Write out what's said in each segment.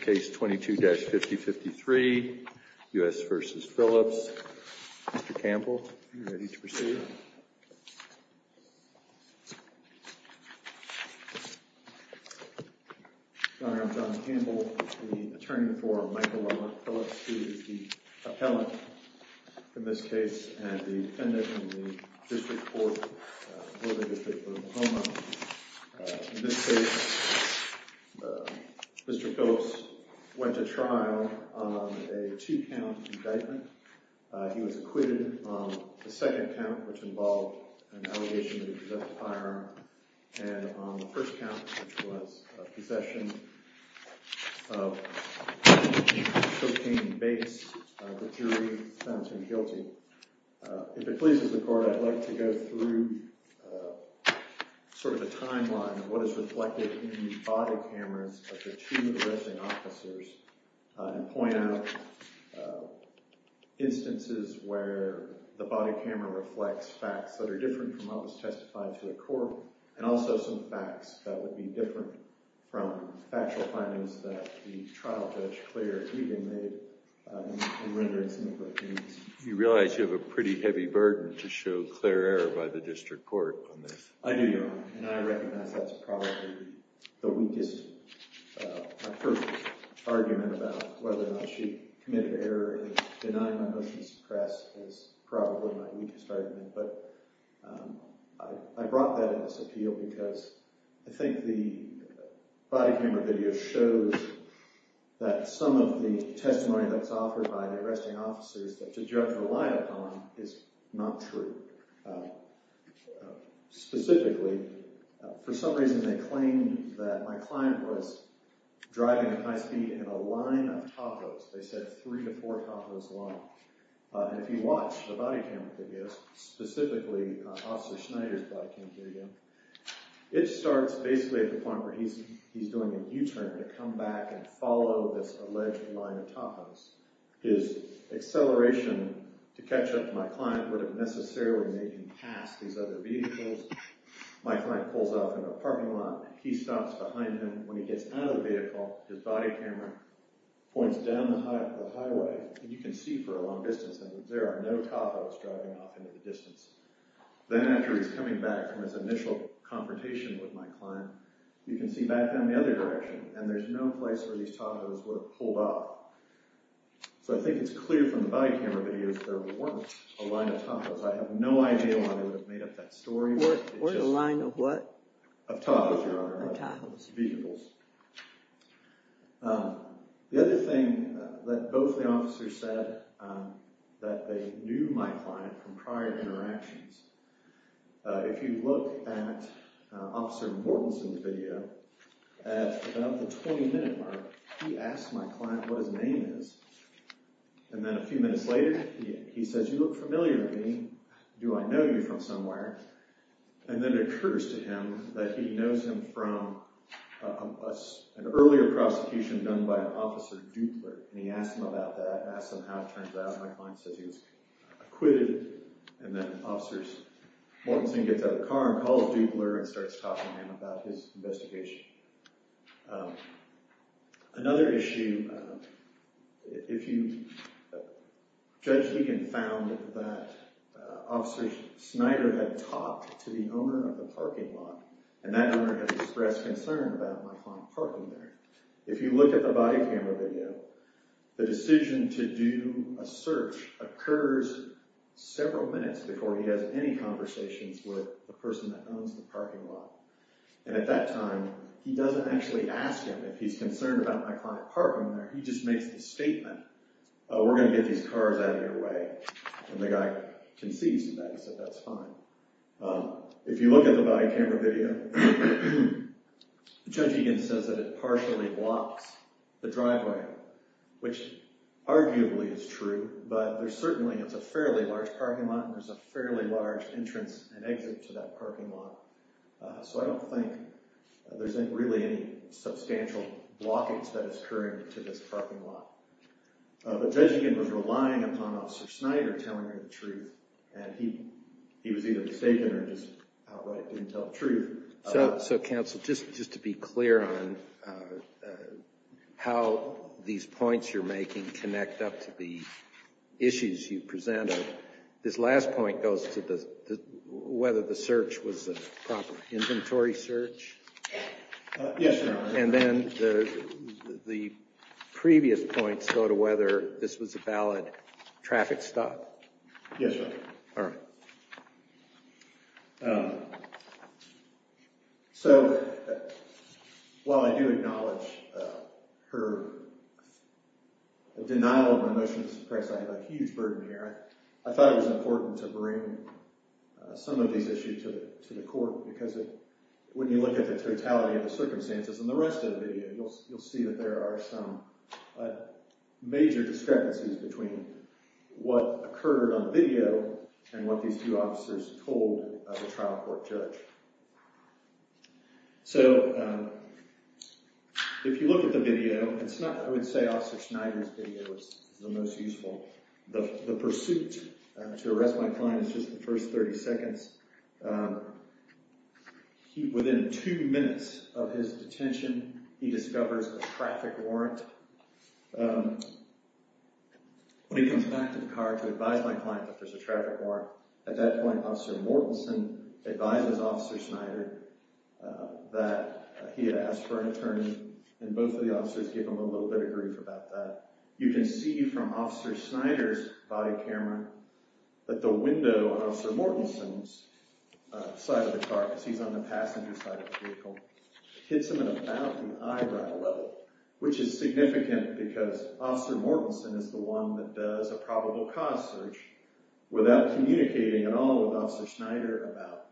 Case 22-5053, U.S. v. Phillips. Mr. Campbell, are you ready to proceed? Your Honor, I'm John Campbell, the attorney for Michael Lamont Phillips, who is the appellant in this case and the defendant in the District Court v. the District Court of Oklahoma. In this case, Mr. Phillips went to trial on a two-count indictment. He was acquitted on the second count, which involved an allegation that he possessed a firearm, and on the first count, which was a possession of a chocaine base, the jury found him guilty. If it pleases the Court, I'd like to go through sort of the timeline of what is reflected in the body cameras of the two arresting officers and point out instances where the body camera reflects facts that are different from what was testified to the court, and also some facts that would be different from factual findings that the trial judge, Claire Egan, You realize you have a pretty heavy burden to show Claire error by the District Court on this. I do, Your Honor, and I recognize that's probably the weakest, my first argument about whether or not she committed error in denying the motion to suppress is probably my weakest argument, but I brought that in this appeal because I think the body camera video shows that some of the testimony that's offered by the arresting officers that the judge relied upon is not true. Specifically, for some reason, they claimed that my client was driving at high speed in a line of tacos. They said three to four tacos long, and if you watch the body camera videos, specifically Officer Schneider's body camera video, it starts basically at the point where he's doing a U-turn to come back and follow this alleged line of tacos. His acceleration to catch up to my client would have necessarily made him pass these other vehicles. My client pulls off in a parking lot. He stops behind him. When he gets out of the vehicle, his body camera points down the highway, and you can see for a long distance that there are no tacos driving off into the distance. Then after he's coming back from his initial confrontation with my client, you can see back down in the other direction, and there's no place where these tacos would have pulled up. So I think it's clear from the body camera videos that there weren't a line of tacos. I have no idea why they would have made up that story. Or the line of what? Of tacos, Your Honor. Of tacos. Of vehicles. The other thing that both the officers said that they knew my client from prior interactions, if you look at Officer Mortensen's video, at about the 20-minute mark, he asks my client what his name is. And then a few minutes later, he says, you look familiar to me. Do I know you from somewhere? And then it occurs to him that he knows him from an earlier prosecution done by an Officer Dupler. And he asks him about that, asks him how it turns out. My client says he was acquitted. And then Officer Mortensen gets out of the car and calls Dupler and starts talking to him about his investigation. Another issue, if you, Judge Keegan found that Officer Snyder had talked to the owner of the parking lot, and that owner had expressed concern about my client parking there. If you look at the body camera video, the decision to do a search occurs several minutes before he has any conversations with the person that owns the parking lot. And at that time, he doesn't actually ask him if he's concerned about my client parking there. He just makes the statement, we're going to get these cars out of your way. And the guy concedes to that. He said, that's fine. If you look at the body camera video, Judge Keegan says that it partially blocks the driveway, which arguably is true, but there's certainly, it's a fairly large parking lot, and there's a fairly large entrance and exit to that parking lot. So I don't think there's really any substantial blockage that is occurring to this parking lot. But Judge Keegan was relying upon Officer Snyder telling her the truth, and he was either mistaken or just outright didn't tell the truth. So, Counsel, just to be clear on how these points you're making connect up to the issues you presented, this last point goes to whether the search was a proper inventory search? Yes, Your Honor. And then the previous points go to whether this was a valid traffic stop? Yes, Your Honor. All right. So, while I do acknowledge her denial of a motion to suppress, I have a huge burden here. I thought it was important to bring some of these issues to the court, because when you look at the totality of the circumstances in the rest of the video, you'll see that there are some major discrepancies between what occurred on video and what these two officers told the trial court judge. So, if you look at the video, I would say Officer Snyder's video is the most useful. The pursuit to arrest my client is just the first 30 seconds. Within two minutes of his detention, he discovers a traffic warrant. When he comes back to the car to advise my client that there's a traffic warrant, at that point, Officer Mortensen advises Officer Snyder that he had asked for an attorney, and both of the officers give him a little bit of grief about that. You can see from Officer Snyder's body camera that the window on Officer Mortensen's side of the car, because he's on the passenger side of the vehicle, hits him about the eyebrow level, which is significant because Officer Mortensen is the one that does a probable cause search without communicating at all with Officer Snyder about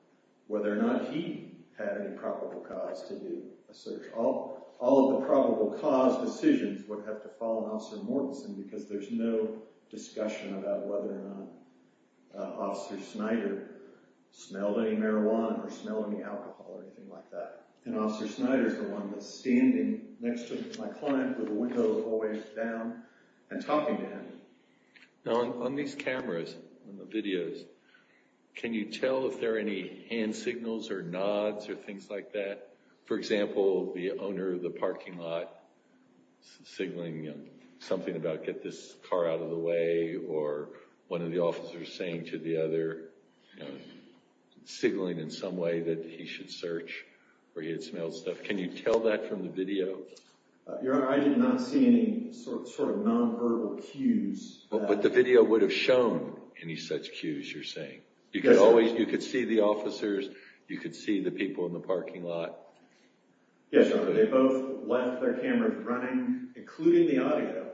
whether or not he had any probable cause to do a search. All of the probable cause decisions would have to fall on Officer Mortensen because there's no discussion about whether or not Officer Snyder smelled any marijuana or smelled any alcohol or anything like that. And Officer Snyder's the one that's standing next to my client with the window always down and talking to him. Now, on these cameras, on the videos, can you tell if there are any hand signals or nods or things like that? For example, the owner of the parking lot signaling something about get this car out of the way or one of the officers saying to the other, signaling in some way that he should search where he had smelled stuff. Can you tell that from the video? Your Honor, I did not see any sort of nonverbal cues. But the video would have shown any such cues you're saying. You could see the officers. You could see the people in the parking lot. Yes, Your Honor. They both left their cameras running, including the audio,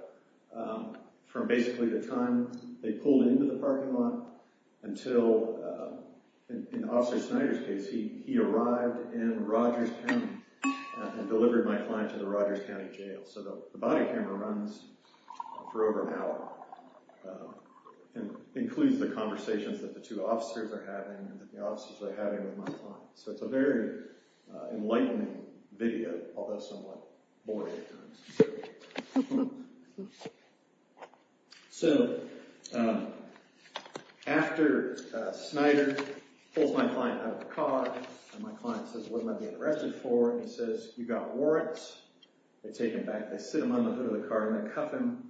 from basically the time they pulled into the parking lot until, in Officer Snyder's case, he arrived in Rogers County and delivered my client to the Rogers County Jail. So the body camera runs for over an hour and includes the conversations that the two officers are having and the officers are having with my client. So it's a very enlightening video, although somewhat boring at times. So after Snyder pulls my client out of the car and my client says, what am I being arrested for? He says, you've got warrants. They take him back. They sit him under the hood of the car and they cuff him.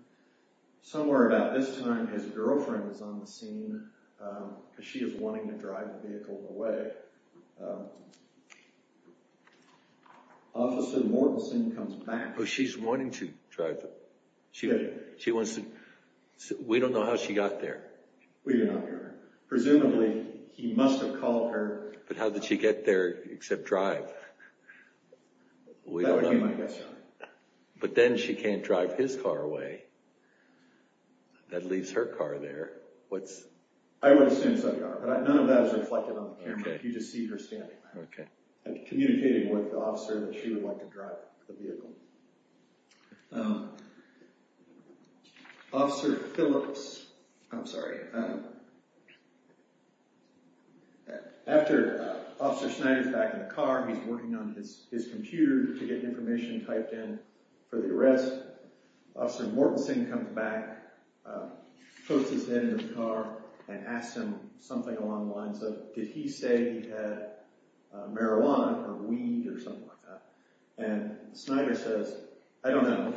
Somewhere about this time, his girlfriend is on the scene because she is wanting to drive the vehicle away. Officer Mortensen comes back. Oh, she's wanting to drive it. She wants to. We don't know how she got there. We do not know. Presumably, he must have called her. But how did she get there except drive? That would be my guess, Your Honor. But then she can't drive his car away. That leaves her car there. I would assume so, Your Honor, but none of that is reflected on the camera. You just see her standing there communicating with the officer that she would like to drive the vehicle. Officer Phillips – I'm sorry. After Officer Snyder is back in the car, he's working on his computer to get information typed in for the arrest. Officer Mortensen comes back, puts his head in the car, and asks him something along the lines of, did he say he had marijuana or weed or something like that? And Snyder says, I don't know.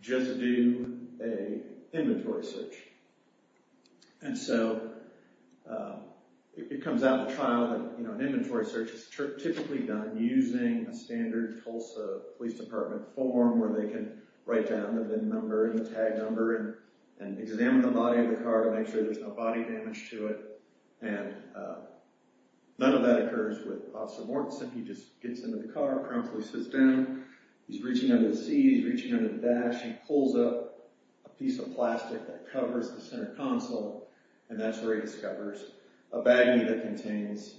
Just do an inventory search. And so it comes out in the trial that an inventory search is typically done using a standard Tulsa Police Department form where they can write down the number, the tag number, and examine the body of the car to make sure there's no body damage to it. And none of that occurs with Officer Mortensen. He just gets into the car, promptly sits down. He's reaching under the seat. He's reaching under the dash. He pulls up a piece of plastic that covers the center console, and that's where he discovers a baggie that contains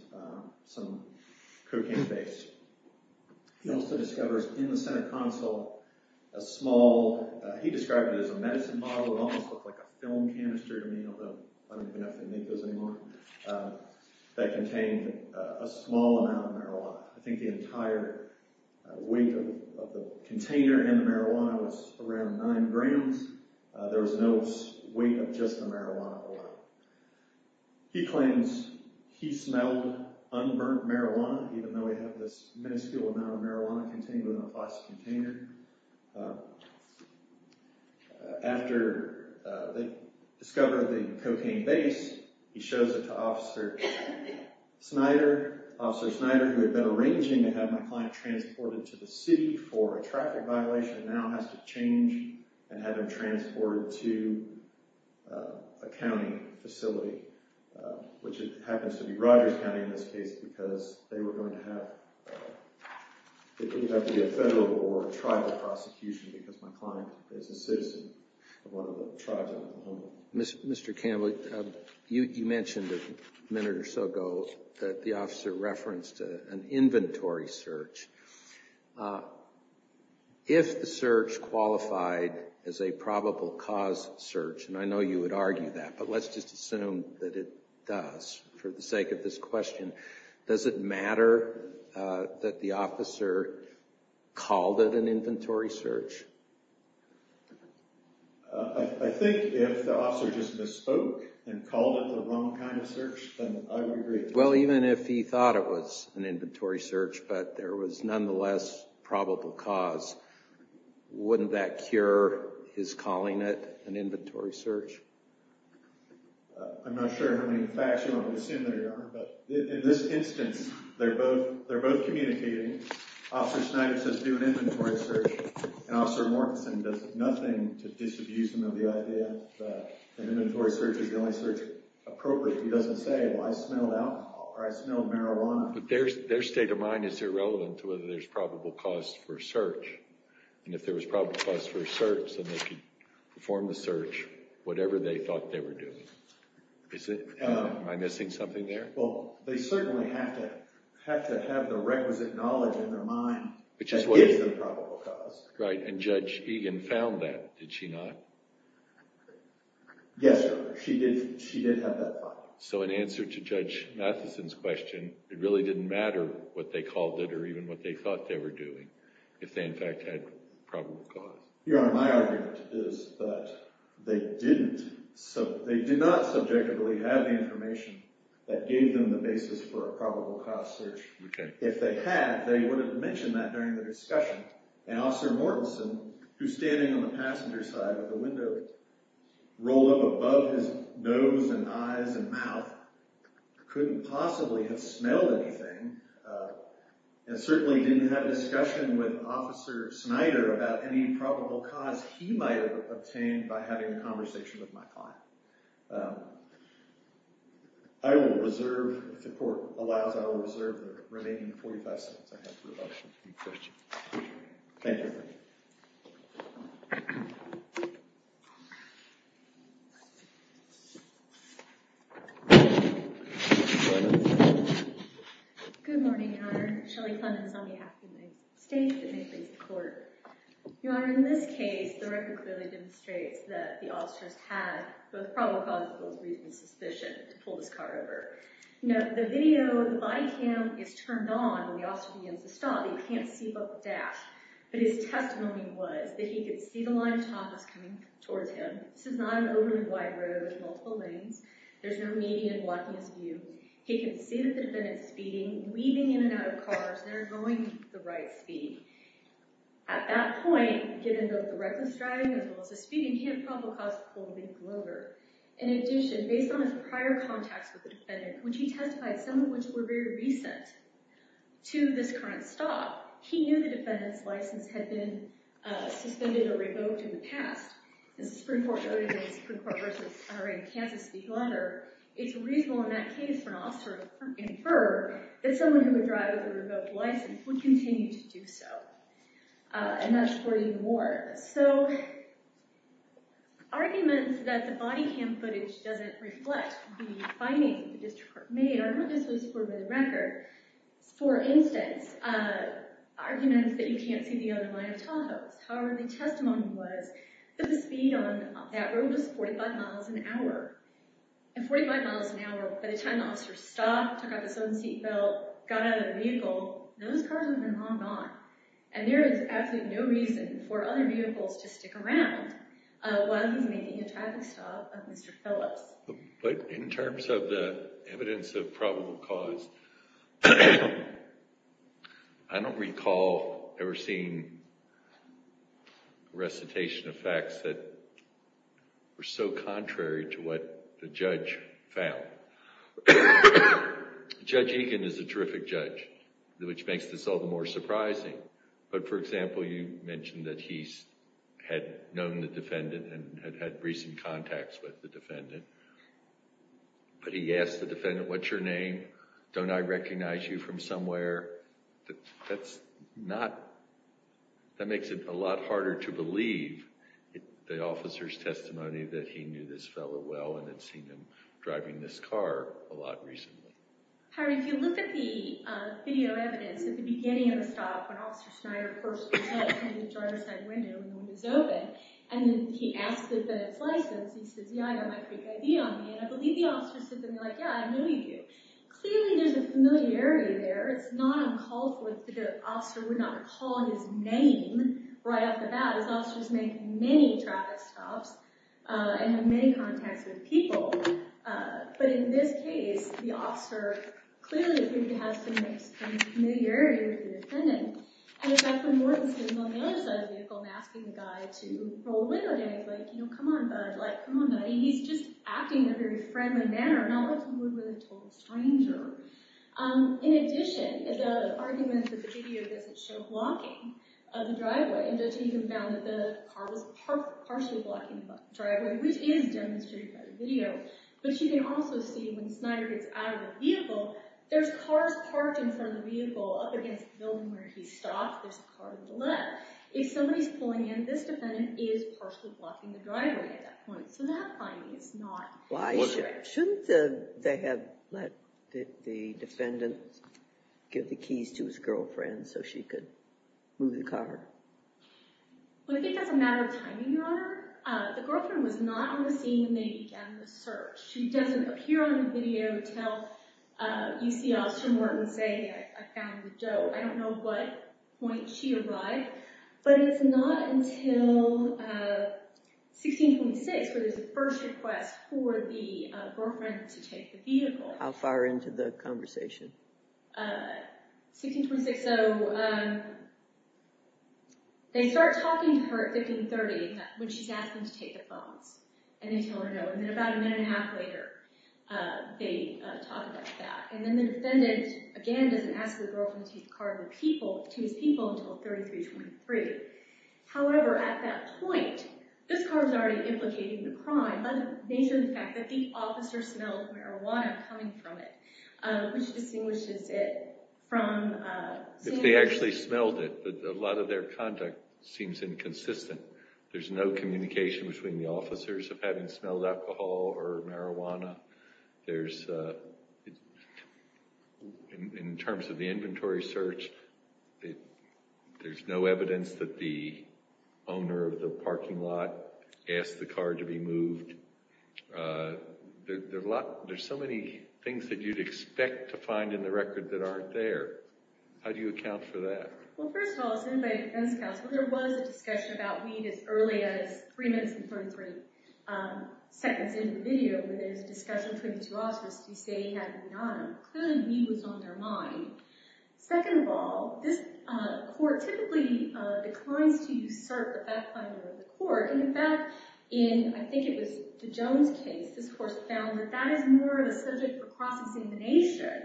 some cocaine-based. He also discovers in the center console a small – he described it as a medicine bottle. It almost looked like a film canister to me, although I don't even have to make those anymore – that contained a small amount of marijuana. I think the entire weight of the container and the marijuana was around 9 grams. There was no weight of just the marijuana alone. He claims he smelled unburnt marijuana, even though he had this minuscule amount of marijuana contained within a plastic container. After they discover the cocaine base, he shows it to Officer Snyder. Officer Snyder, who had been arranging to have my client transported to the city for a traffic violation, now has to change and have him transported to a county facility, which happens to be Rogers County in this case, because they were going to have – it turned out to be a federal or tribal prosecution because my client is a citizen of one of the tribes in Oklahoma. Mr. Campbell, you mentioned a minute or so ago that the officer referenced an inventory search. If the search qualified as a probable cause search – and I know you would argue that, but let's just assume that it does for the sake of this question – does it matter that the officer called it an inventory search? I think if the officer just misspoke and called it the wrong kind of search, then I would agree. Well, even if he thought it was an inventory search, but there was nonetheless probable cause, wouldn't that cure his calling it an inventory search? I'm not sure how many facts you want to assume there are, but in this instance, they're both communicating. Officer Snyder says do an inventory search, and Officer Mortenson does nothing to disabuse him of the idea that an inventory search is the only search appropriate. He doesn't say, well, I smelled alcohol or I smelled marijuana. But their state of mind is irrelevant to whether there's probable cause for a search, and if there was probable cause for a search, then they could perform the search, whatever they thought they were doing. Am I missing something there? Well, they certainly have to have the requisite knowledge in their mind that gives them probable cause. Right, and Judge Egan found that, did she not? Yes, sir, she did have that find. So in answer to Judge Matheson's question, it really didn't matter what they called it or even what they thought they were doing if they, in fact, had probable cause. Your Honor, my argument is that they did not subjectively have the information that gave them the basis for a probable cause search. If they had, they would have mentioned that during the discussion, and Officer Mortenson, who's standing on the passenger side of the window, rolled up above his nose and eyes and mouth, couldn't possibly have smelled anything and certainly didn't have a discussion with Officer Snyder about any probable cause he might have obtained by having a conversation with my client. I will reserve, if the court allows, I will reserve the remaining 45 seconds I have for questions. Thank you. Good morning, Your Honor. Good morning, Your Honor. Shelley Clemmons on behalf of the United States. It may please the Court. Your Honor, in this case, the record clearly demonstrates that the officer has had both probable cause and reasonable suspicion to pull this car over. The video, the body cam, is turned on when the officer begins to stop. You can't see both the dash. But his testimony was that he could see the line of traffic coming towards him. This is not an overly wide road with multiple lanes. There's no median blocking his view. He can see that the defendant is speeding, weaving in and out of cars, and they're going at the right speed. At that point, given both the reckless driving as well as the speeding, he had a probable cause to pull the vehicle over. In addition, based on his prior contacts with the defendant, which he testified some of which were very recent to this current stop, he knew the defendant's license had been suspended or revoked in the past. As the Supreme Court noted in the Supreme Court v. Honorary in Kansas speak letter, it's reasonable in that case for an officer to infer that someone who would drive with a revoked license would continue to do so. And that's reported in the ward. So arguments that the body cam footage doesn't reflect the findings that the district court made are not necessarily supported by the record. For instance, arguments that you can't see the underlying tow hose. However, the testimony was that the speed on that road was 45 miles an hour. And 45 miles an hour, by the time the officer stopped, took off his own seat belt, got out of the vehicle, those cars would have been long gone. And there is absolutely no reason for other vehicles to stick around while he's making a traffic stop of Mr. Phillips. But in terms of the evidence of probable cause, I don't recall ever seeing recitation of facts that were so contrary to what the judge found. Judge Egan is a terrific judge, which makes this all the more surprising. But, for example, you mentioned that he had known the defendant and had had recent contacts with the defendant. But he asked the defendant, what's your name? Don't I recognize you from somewhere? That's not – that makes it a lot harder to believe the officer's testimony that he knew this fellow well and had seen him driving this car a lot recently. Harry, if you look at the video evidence at the beginning of the stop when Officer Schneider first came out through the driver's side window and the window's open, and then he asks the defendant's license, he says, yeah, I got my Creek ID on me. And I believe the officer said to him, yeah, I know you do. Clearly there's a familiarity there. It's not uncalled for that the officer would not call his name right off the bat, as officers make many traffic stops and have many contacts with people. But in this case, the officer clearly has some familiarity with the defendant. And in fact, when Norton stands on the other side of the vehicle and asking the guy to roll over to him, he's like, you know, come on, bud. Like, come on, buddy. He's just acting in a very friendly manner, not like someone who was a total stranger. In addition, the argument that the video doesn't show blocking of the driveway, the judge even found that the car was partially blocking the driveway, which is demonstrated by the video. But you can also see when Schneider gets out of the vehicle, there's cars parked in front of the vehicle up against the building where he stopped. There's a car on the left. If somebody's pulling in, this defendant is partially blocking the driveway at that point. So that finding is not accurate. Why shouldn't they have let the defendant give the keys to his girlfriend so she could move the car? Well, I think that's a matter of timing, Your Honor. The girlfriend was not on the scene when they began the search. She doesn't appear on the video until you see Officer Morton say, I found Joe. I don't know what point she arrived, but it's not until 1626 where there's a first request for the girlfriend to take the vehicle. How far into the conversation? 1626. So they start talking to her at 1530 when she's asking to take the phones, and they tell her no. And then about a minute and a half later, they talk about that. And then the defendant, again, doesn't ask the girlfriend to take the car to his people until 1323. However, at that point, this car was already implicating the crime by the nature of the fact that the officer smelled marijuana coming from it, which distinguishes it from— They actually smelled it, but a lot of their conduct seems inconsistent. There's no communication between the officers of having smelled alcohol or marijuana. There's—in terms of the inventory search, there's no evidence that the owner of the parking lot asked the car to be moved. There's so many things that you'd expect to find in the record that aren't there. How do you account for that? Well, first of all, as anybody who defends counsel, there was a discussion about weed as early as three minutes and 33 seconds into the video where there's a discussion between the two officers to say he had weed on him. Clearly, weed was on their mind. Second of all, this court typically declines to usurp the fact-finding of the court. In fact, in—I think it was the Jones case, this court found that that is more of a subject for cross-examination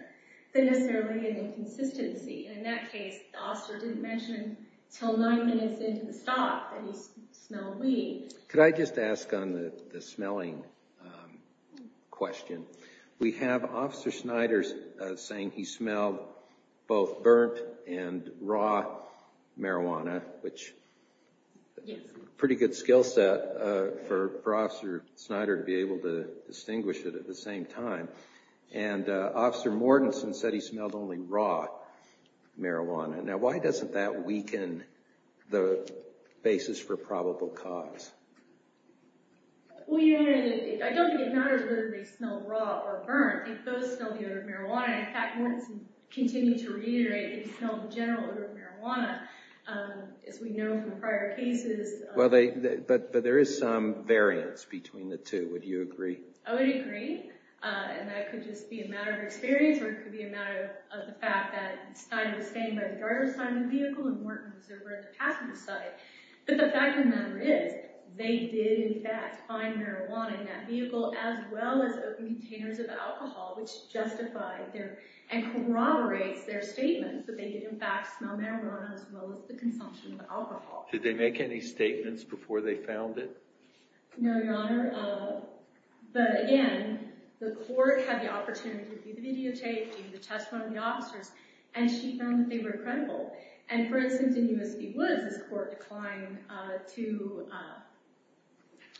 than necessarily an inconsistency. In that case, the officer didn't mention until nine minutes into the stop that he smelled weed. Could I just ask on the smelling question? We have Officer Snyder saying he smelled both burnt and raw marijuana, which is a pretty good skill set for Officer Snyder to be able to distinguish it at the same time. And Officer Mortenson said he smelled only raw marijuana. Now, why doesn't that weaken the basis for probable cause? Well, you know, I don't think it matters whether they smelled raw or burnt. They both smelled the odor of marijuana. In fact, Mortenson continued to reiterate he smelled the general odor of marijuana, as we know from prior cases. But there is some variance between the two. Would you agree? I would agree, and that could just be a matter of experience, or it could be a matter of the fact that Snyder was standing by the garage side of the vehicle and Mortenson was over at the passenger side. But the fact of the matter is they did, in fact, find marijuana in that vehicle, as well as open containers of alcohol, which justifies their—and corroborates their statements that they did, in fact, smell marijuana as well as the consumption of alcohol. Did they make any statements before they found it? No, Your Honor. But, again, the court had the opportunity to do the videotaping, the testimony of the officers, and she found that they were credible. And, for instance, in U.S. v. Woods, this court declined to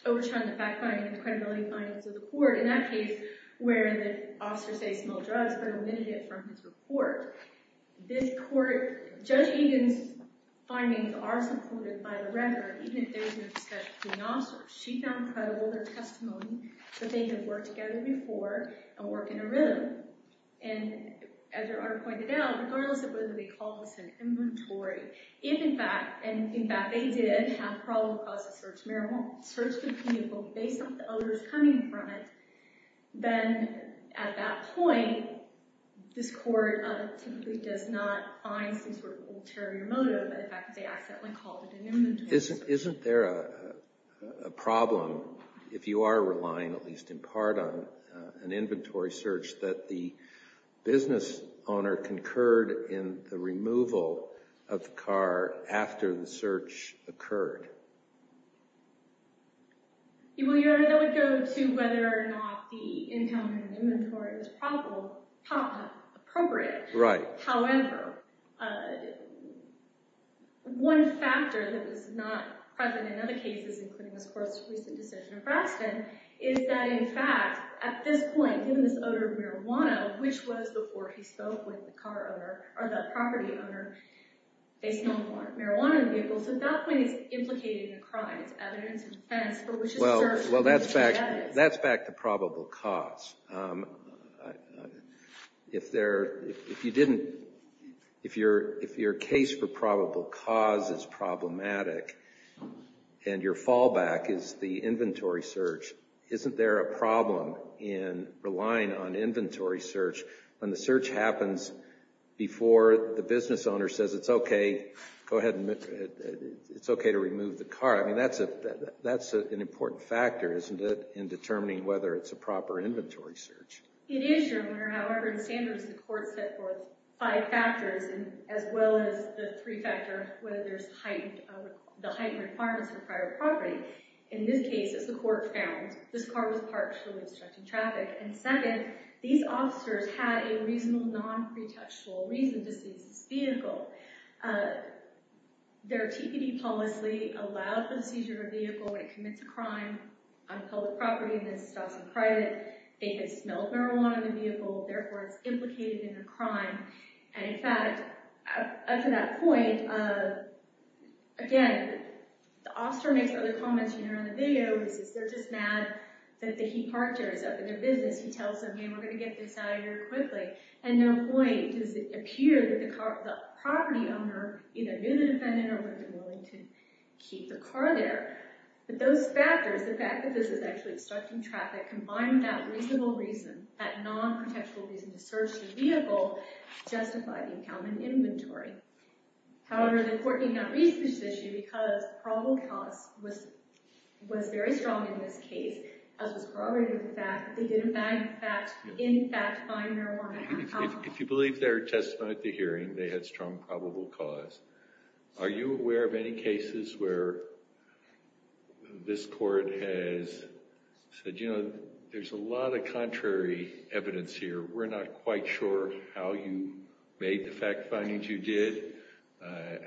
overturn the fact-finding and the credibility findings of the court. In that case, where the officers say smell drugs, but omitted it from his report, this court—Judge Egan's findings are supported by the record, even if there was no discussion between officers. She found credible their testimony that they had worked together before and worked in a room. And, as Your Honor pointed out, regardless of whether they called this an inventory, if, in fact—and, in fact, they did have a problem with the cause of the search— searched the vehicle based on the odors coming from it, then, at that point, this court typically does not find some sort of ulterior motive by the fact that they accidentally called it an inventory. Isn't there a problem, if you are relying at least in part on an inventory search, that the business owner concurred in the removal of the car after the search occurred? Well, Your Honor, that would go to whether or not the encounter in an inventory is probable—appropriate. Right. However, one factor that was not present in other cases, including this court's recent decision of Braxton, is that, in fact, at this point, given this odor of marijuana, which was before he spoke with the car owner, or the property owner, based on the marijuana in the vehicle, so at that point it's implicated in a crime. It's evidence in defense for which a search— Well, that's back to probable cause. If you didn't—if your case for probable cause is problematic and your fallback is the inventory search, isn't there a problem in relying on inventory search when the search happens before the business owner says, it's okay, go ahead, it's okay to remove the car? I mean, that's an important factor, isn't it, in determining whether it's a proper inventory search? It is, Your Honor. However, in standards, the court set forth five factors, as well as the three-factor whether there's heightened—the heightened requirements for private property. In this case, as the court found, this car was parked for obstructing traffic. And second, these officers had a reasonable, non-pretextual reason to seize this vehicle. Their TPD policy allowed for the seizure of a vehicle when it commits a crime on public property and then stops in private. They had smelled marijuana in the vehicle, therefore it's implicated in a crime. And in fact, up to that point, again, the officer makes other comments, you know, in the video. He says they're just mad that the he parked here is up in their business. He tells them, hey, we're going to get this out of here quickly. At no point does it appear that the property owner either knew the defendant or was willing to keep the car there. But those factors, the fact that this is actually obstructing traffic, combined with that reasonable reason, that non-pretextual reason to search the vehicle, justify the incumbent inventory. However, the court did not reach this issue because the probable cause was very strong in this case, as was corroborated with the fact that they did in fact find marijuana. If you believe their testimony at the hearing, they had strong probable cause. Are you aware of any cases where this court has said, you know, there's a lot of contrary evidence here. We're not quite sure how you made the fact findings you did,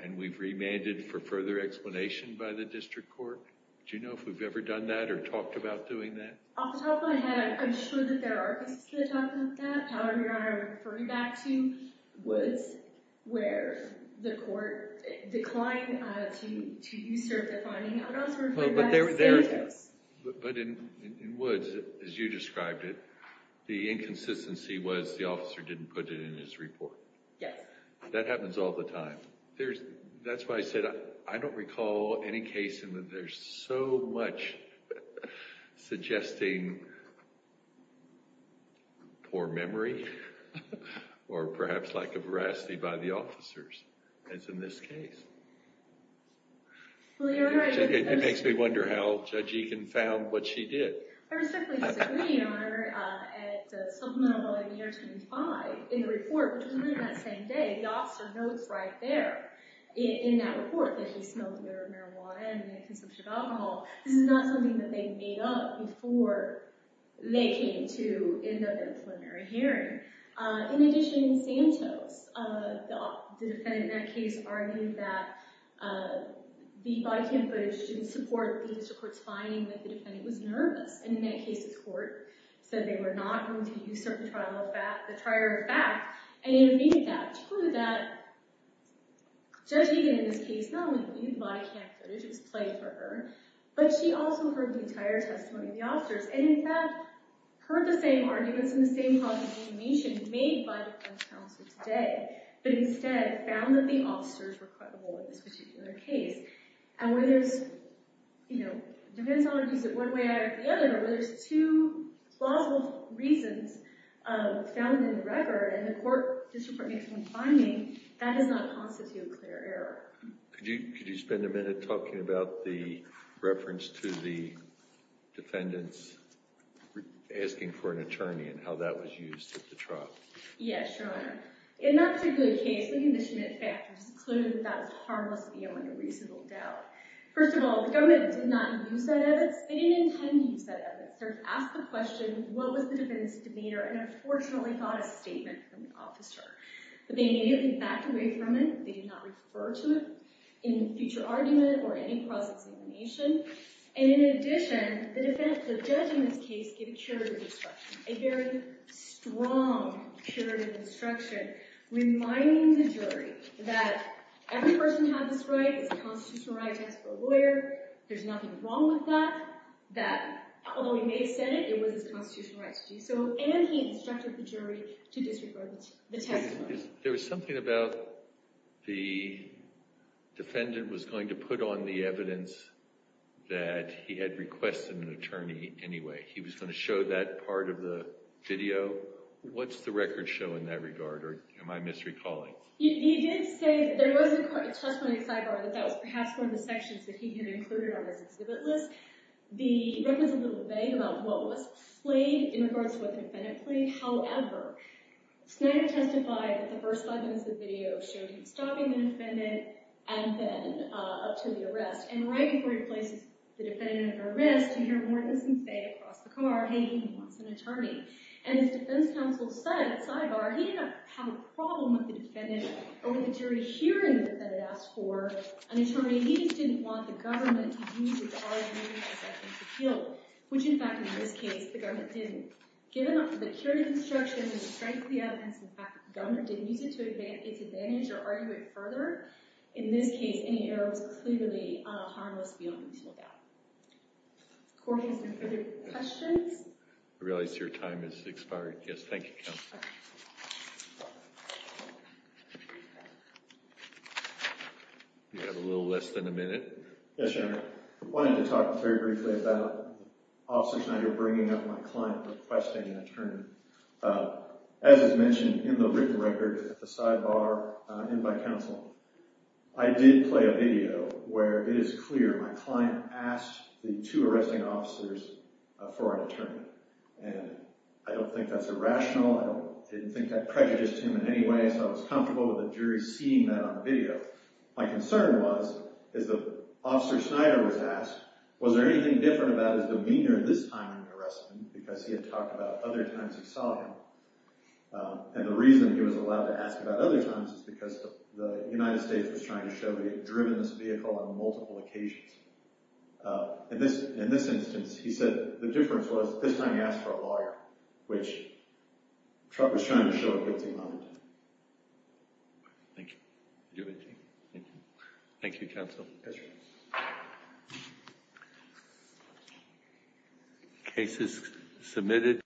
and we've remanded for further explanation by the district court. Do you know if we've ever done that or talked about doing that? Off the top of my head, I'm sure that there are cases that talk about that. However, Your Honor, I would refer you back to Woods, where the court declined to usurp the finding. I would also refer you back to Saratops. But in Woods, as you described it, the inconsistency was the officer didn't put it in his report. Yes. That happens all the time. That's why I said I don't recall any case in which there's so much suggesting poor memory or perhaps lack of veracity by the officers, as in this case. It makes me wonder how Judge Egan found what she did. I respectfully disagree, Your Honor. At the supplemental volume here 2 and 5 in the report, which was written that same day, the officer notes right there in that report that he smoked a little marijuana and had a consumption of alcohol. This is not something that they made up before they came to end up in a preliminary hearing. In addition, Santos, the defendant in that case, argued that the body cam footage didn't support the district court's finding that the defendant was nervous. And in that case, the court said they were not going to usurp the trial of fact. And it made that true that Judge Egan, in this case, not only believed the body cam footage was played for her, but she also heard the entire testimony of the officers and, in fact, heard the same arguments and the same positive information made by the defense counsel today, but instead found that the officers were credible in this particular case. And where there's, you know, defense only views it one way or the other, but where there's two plausible reasons found in the record and the court district court makes one finding, that does not constitute a clear error. Could you spend a minute talking about the reference to the defendants asking for an attorney and how that was used at the trial? Yes, Your Honor. In that particular case, the conditioning factors concluded that that was harmless beyond a reasonable doubt. First of all, the government did not use that evidence. They didn't intend to use that evidence. They asked the question, what was the defendant's demeanor, and unfortunately got a statement from the officer. But they immediately backed away from it. They did not refer to it in a future argument or any cross-examination. And in addition, the defense, the judge in this case, gave a curative instruction, a very strong curative instruction, reminding the jury that every person has this right, it's a constitutional right to ask for a lawyer, there's nothing wrong with that, that although he may have said it, it was his constitutional right to do so, and he instructed the jury to disregard the testimony. There was something about the defendant was going to put on the evidence that he had requested an attorney anyway. He was going to show that part of the video. What's the record show in that regard, or am I misrecalling? He did say there was a testimony sidebar that that was perhaps one of the sections that he had included on his exhibit list. The record is a little vague about what was played in regards to what the defendant played. However, Snyder testified that the first five minutes of the video showed him stopping the defendant and then up to the arrest. And right before he places the defendant at arrest, you hear Mortensen say across the car, hey, he wants an attorney. And his defense counsel said, sidebar, he did not have a problem with the defendant or with the jury hearing the defendant ask for an attorney. He just didn't want the government to use his argument as evidence of guilt, which, in fact, in this case, the government didn't. Given the curative instruction and the strength of the evidence, in fact, the government didn't use it to its advantage or argue it further. In this case, any error was clearly on a harmless view until now. Court has no further questions. I realize your time has expired. Yes, thank you, Counsel. You have a little less than a minute. Yes, Your Honor. I wanted to talk very briefly about Officer Snyder bringing up my client requesting an attorney. As is mentioned in the written record, the sidebar in my counsel, I did play a video where it is clear my client asked the two arresting officers for an attorney. And I don't think that's irrational. I didn't think that prejudiced him in any way, so I was comfortable with the jury seeing that on the video. My concern was, as Officer Snyder was asked, was there anything different about his demeanor this time in the arrest? He had asked him because he had talked about other times he saw him. And the reason he was allowed to ask about other times is because the United States was trying to show they had driven this vehicle on multiple occasions. In this instance, he said the difference was this time he asked for a lawyer, which Trump was trying to show a guilty moment. Thank you. Thank you, Counsel. Yes, Your Honor.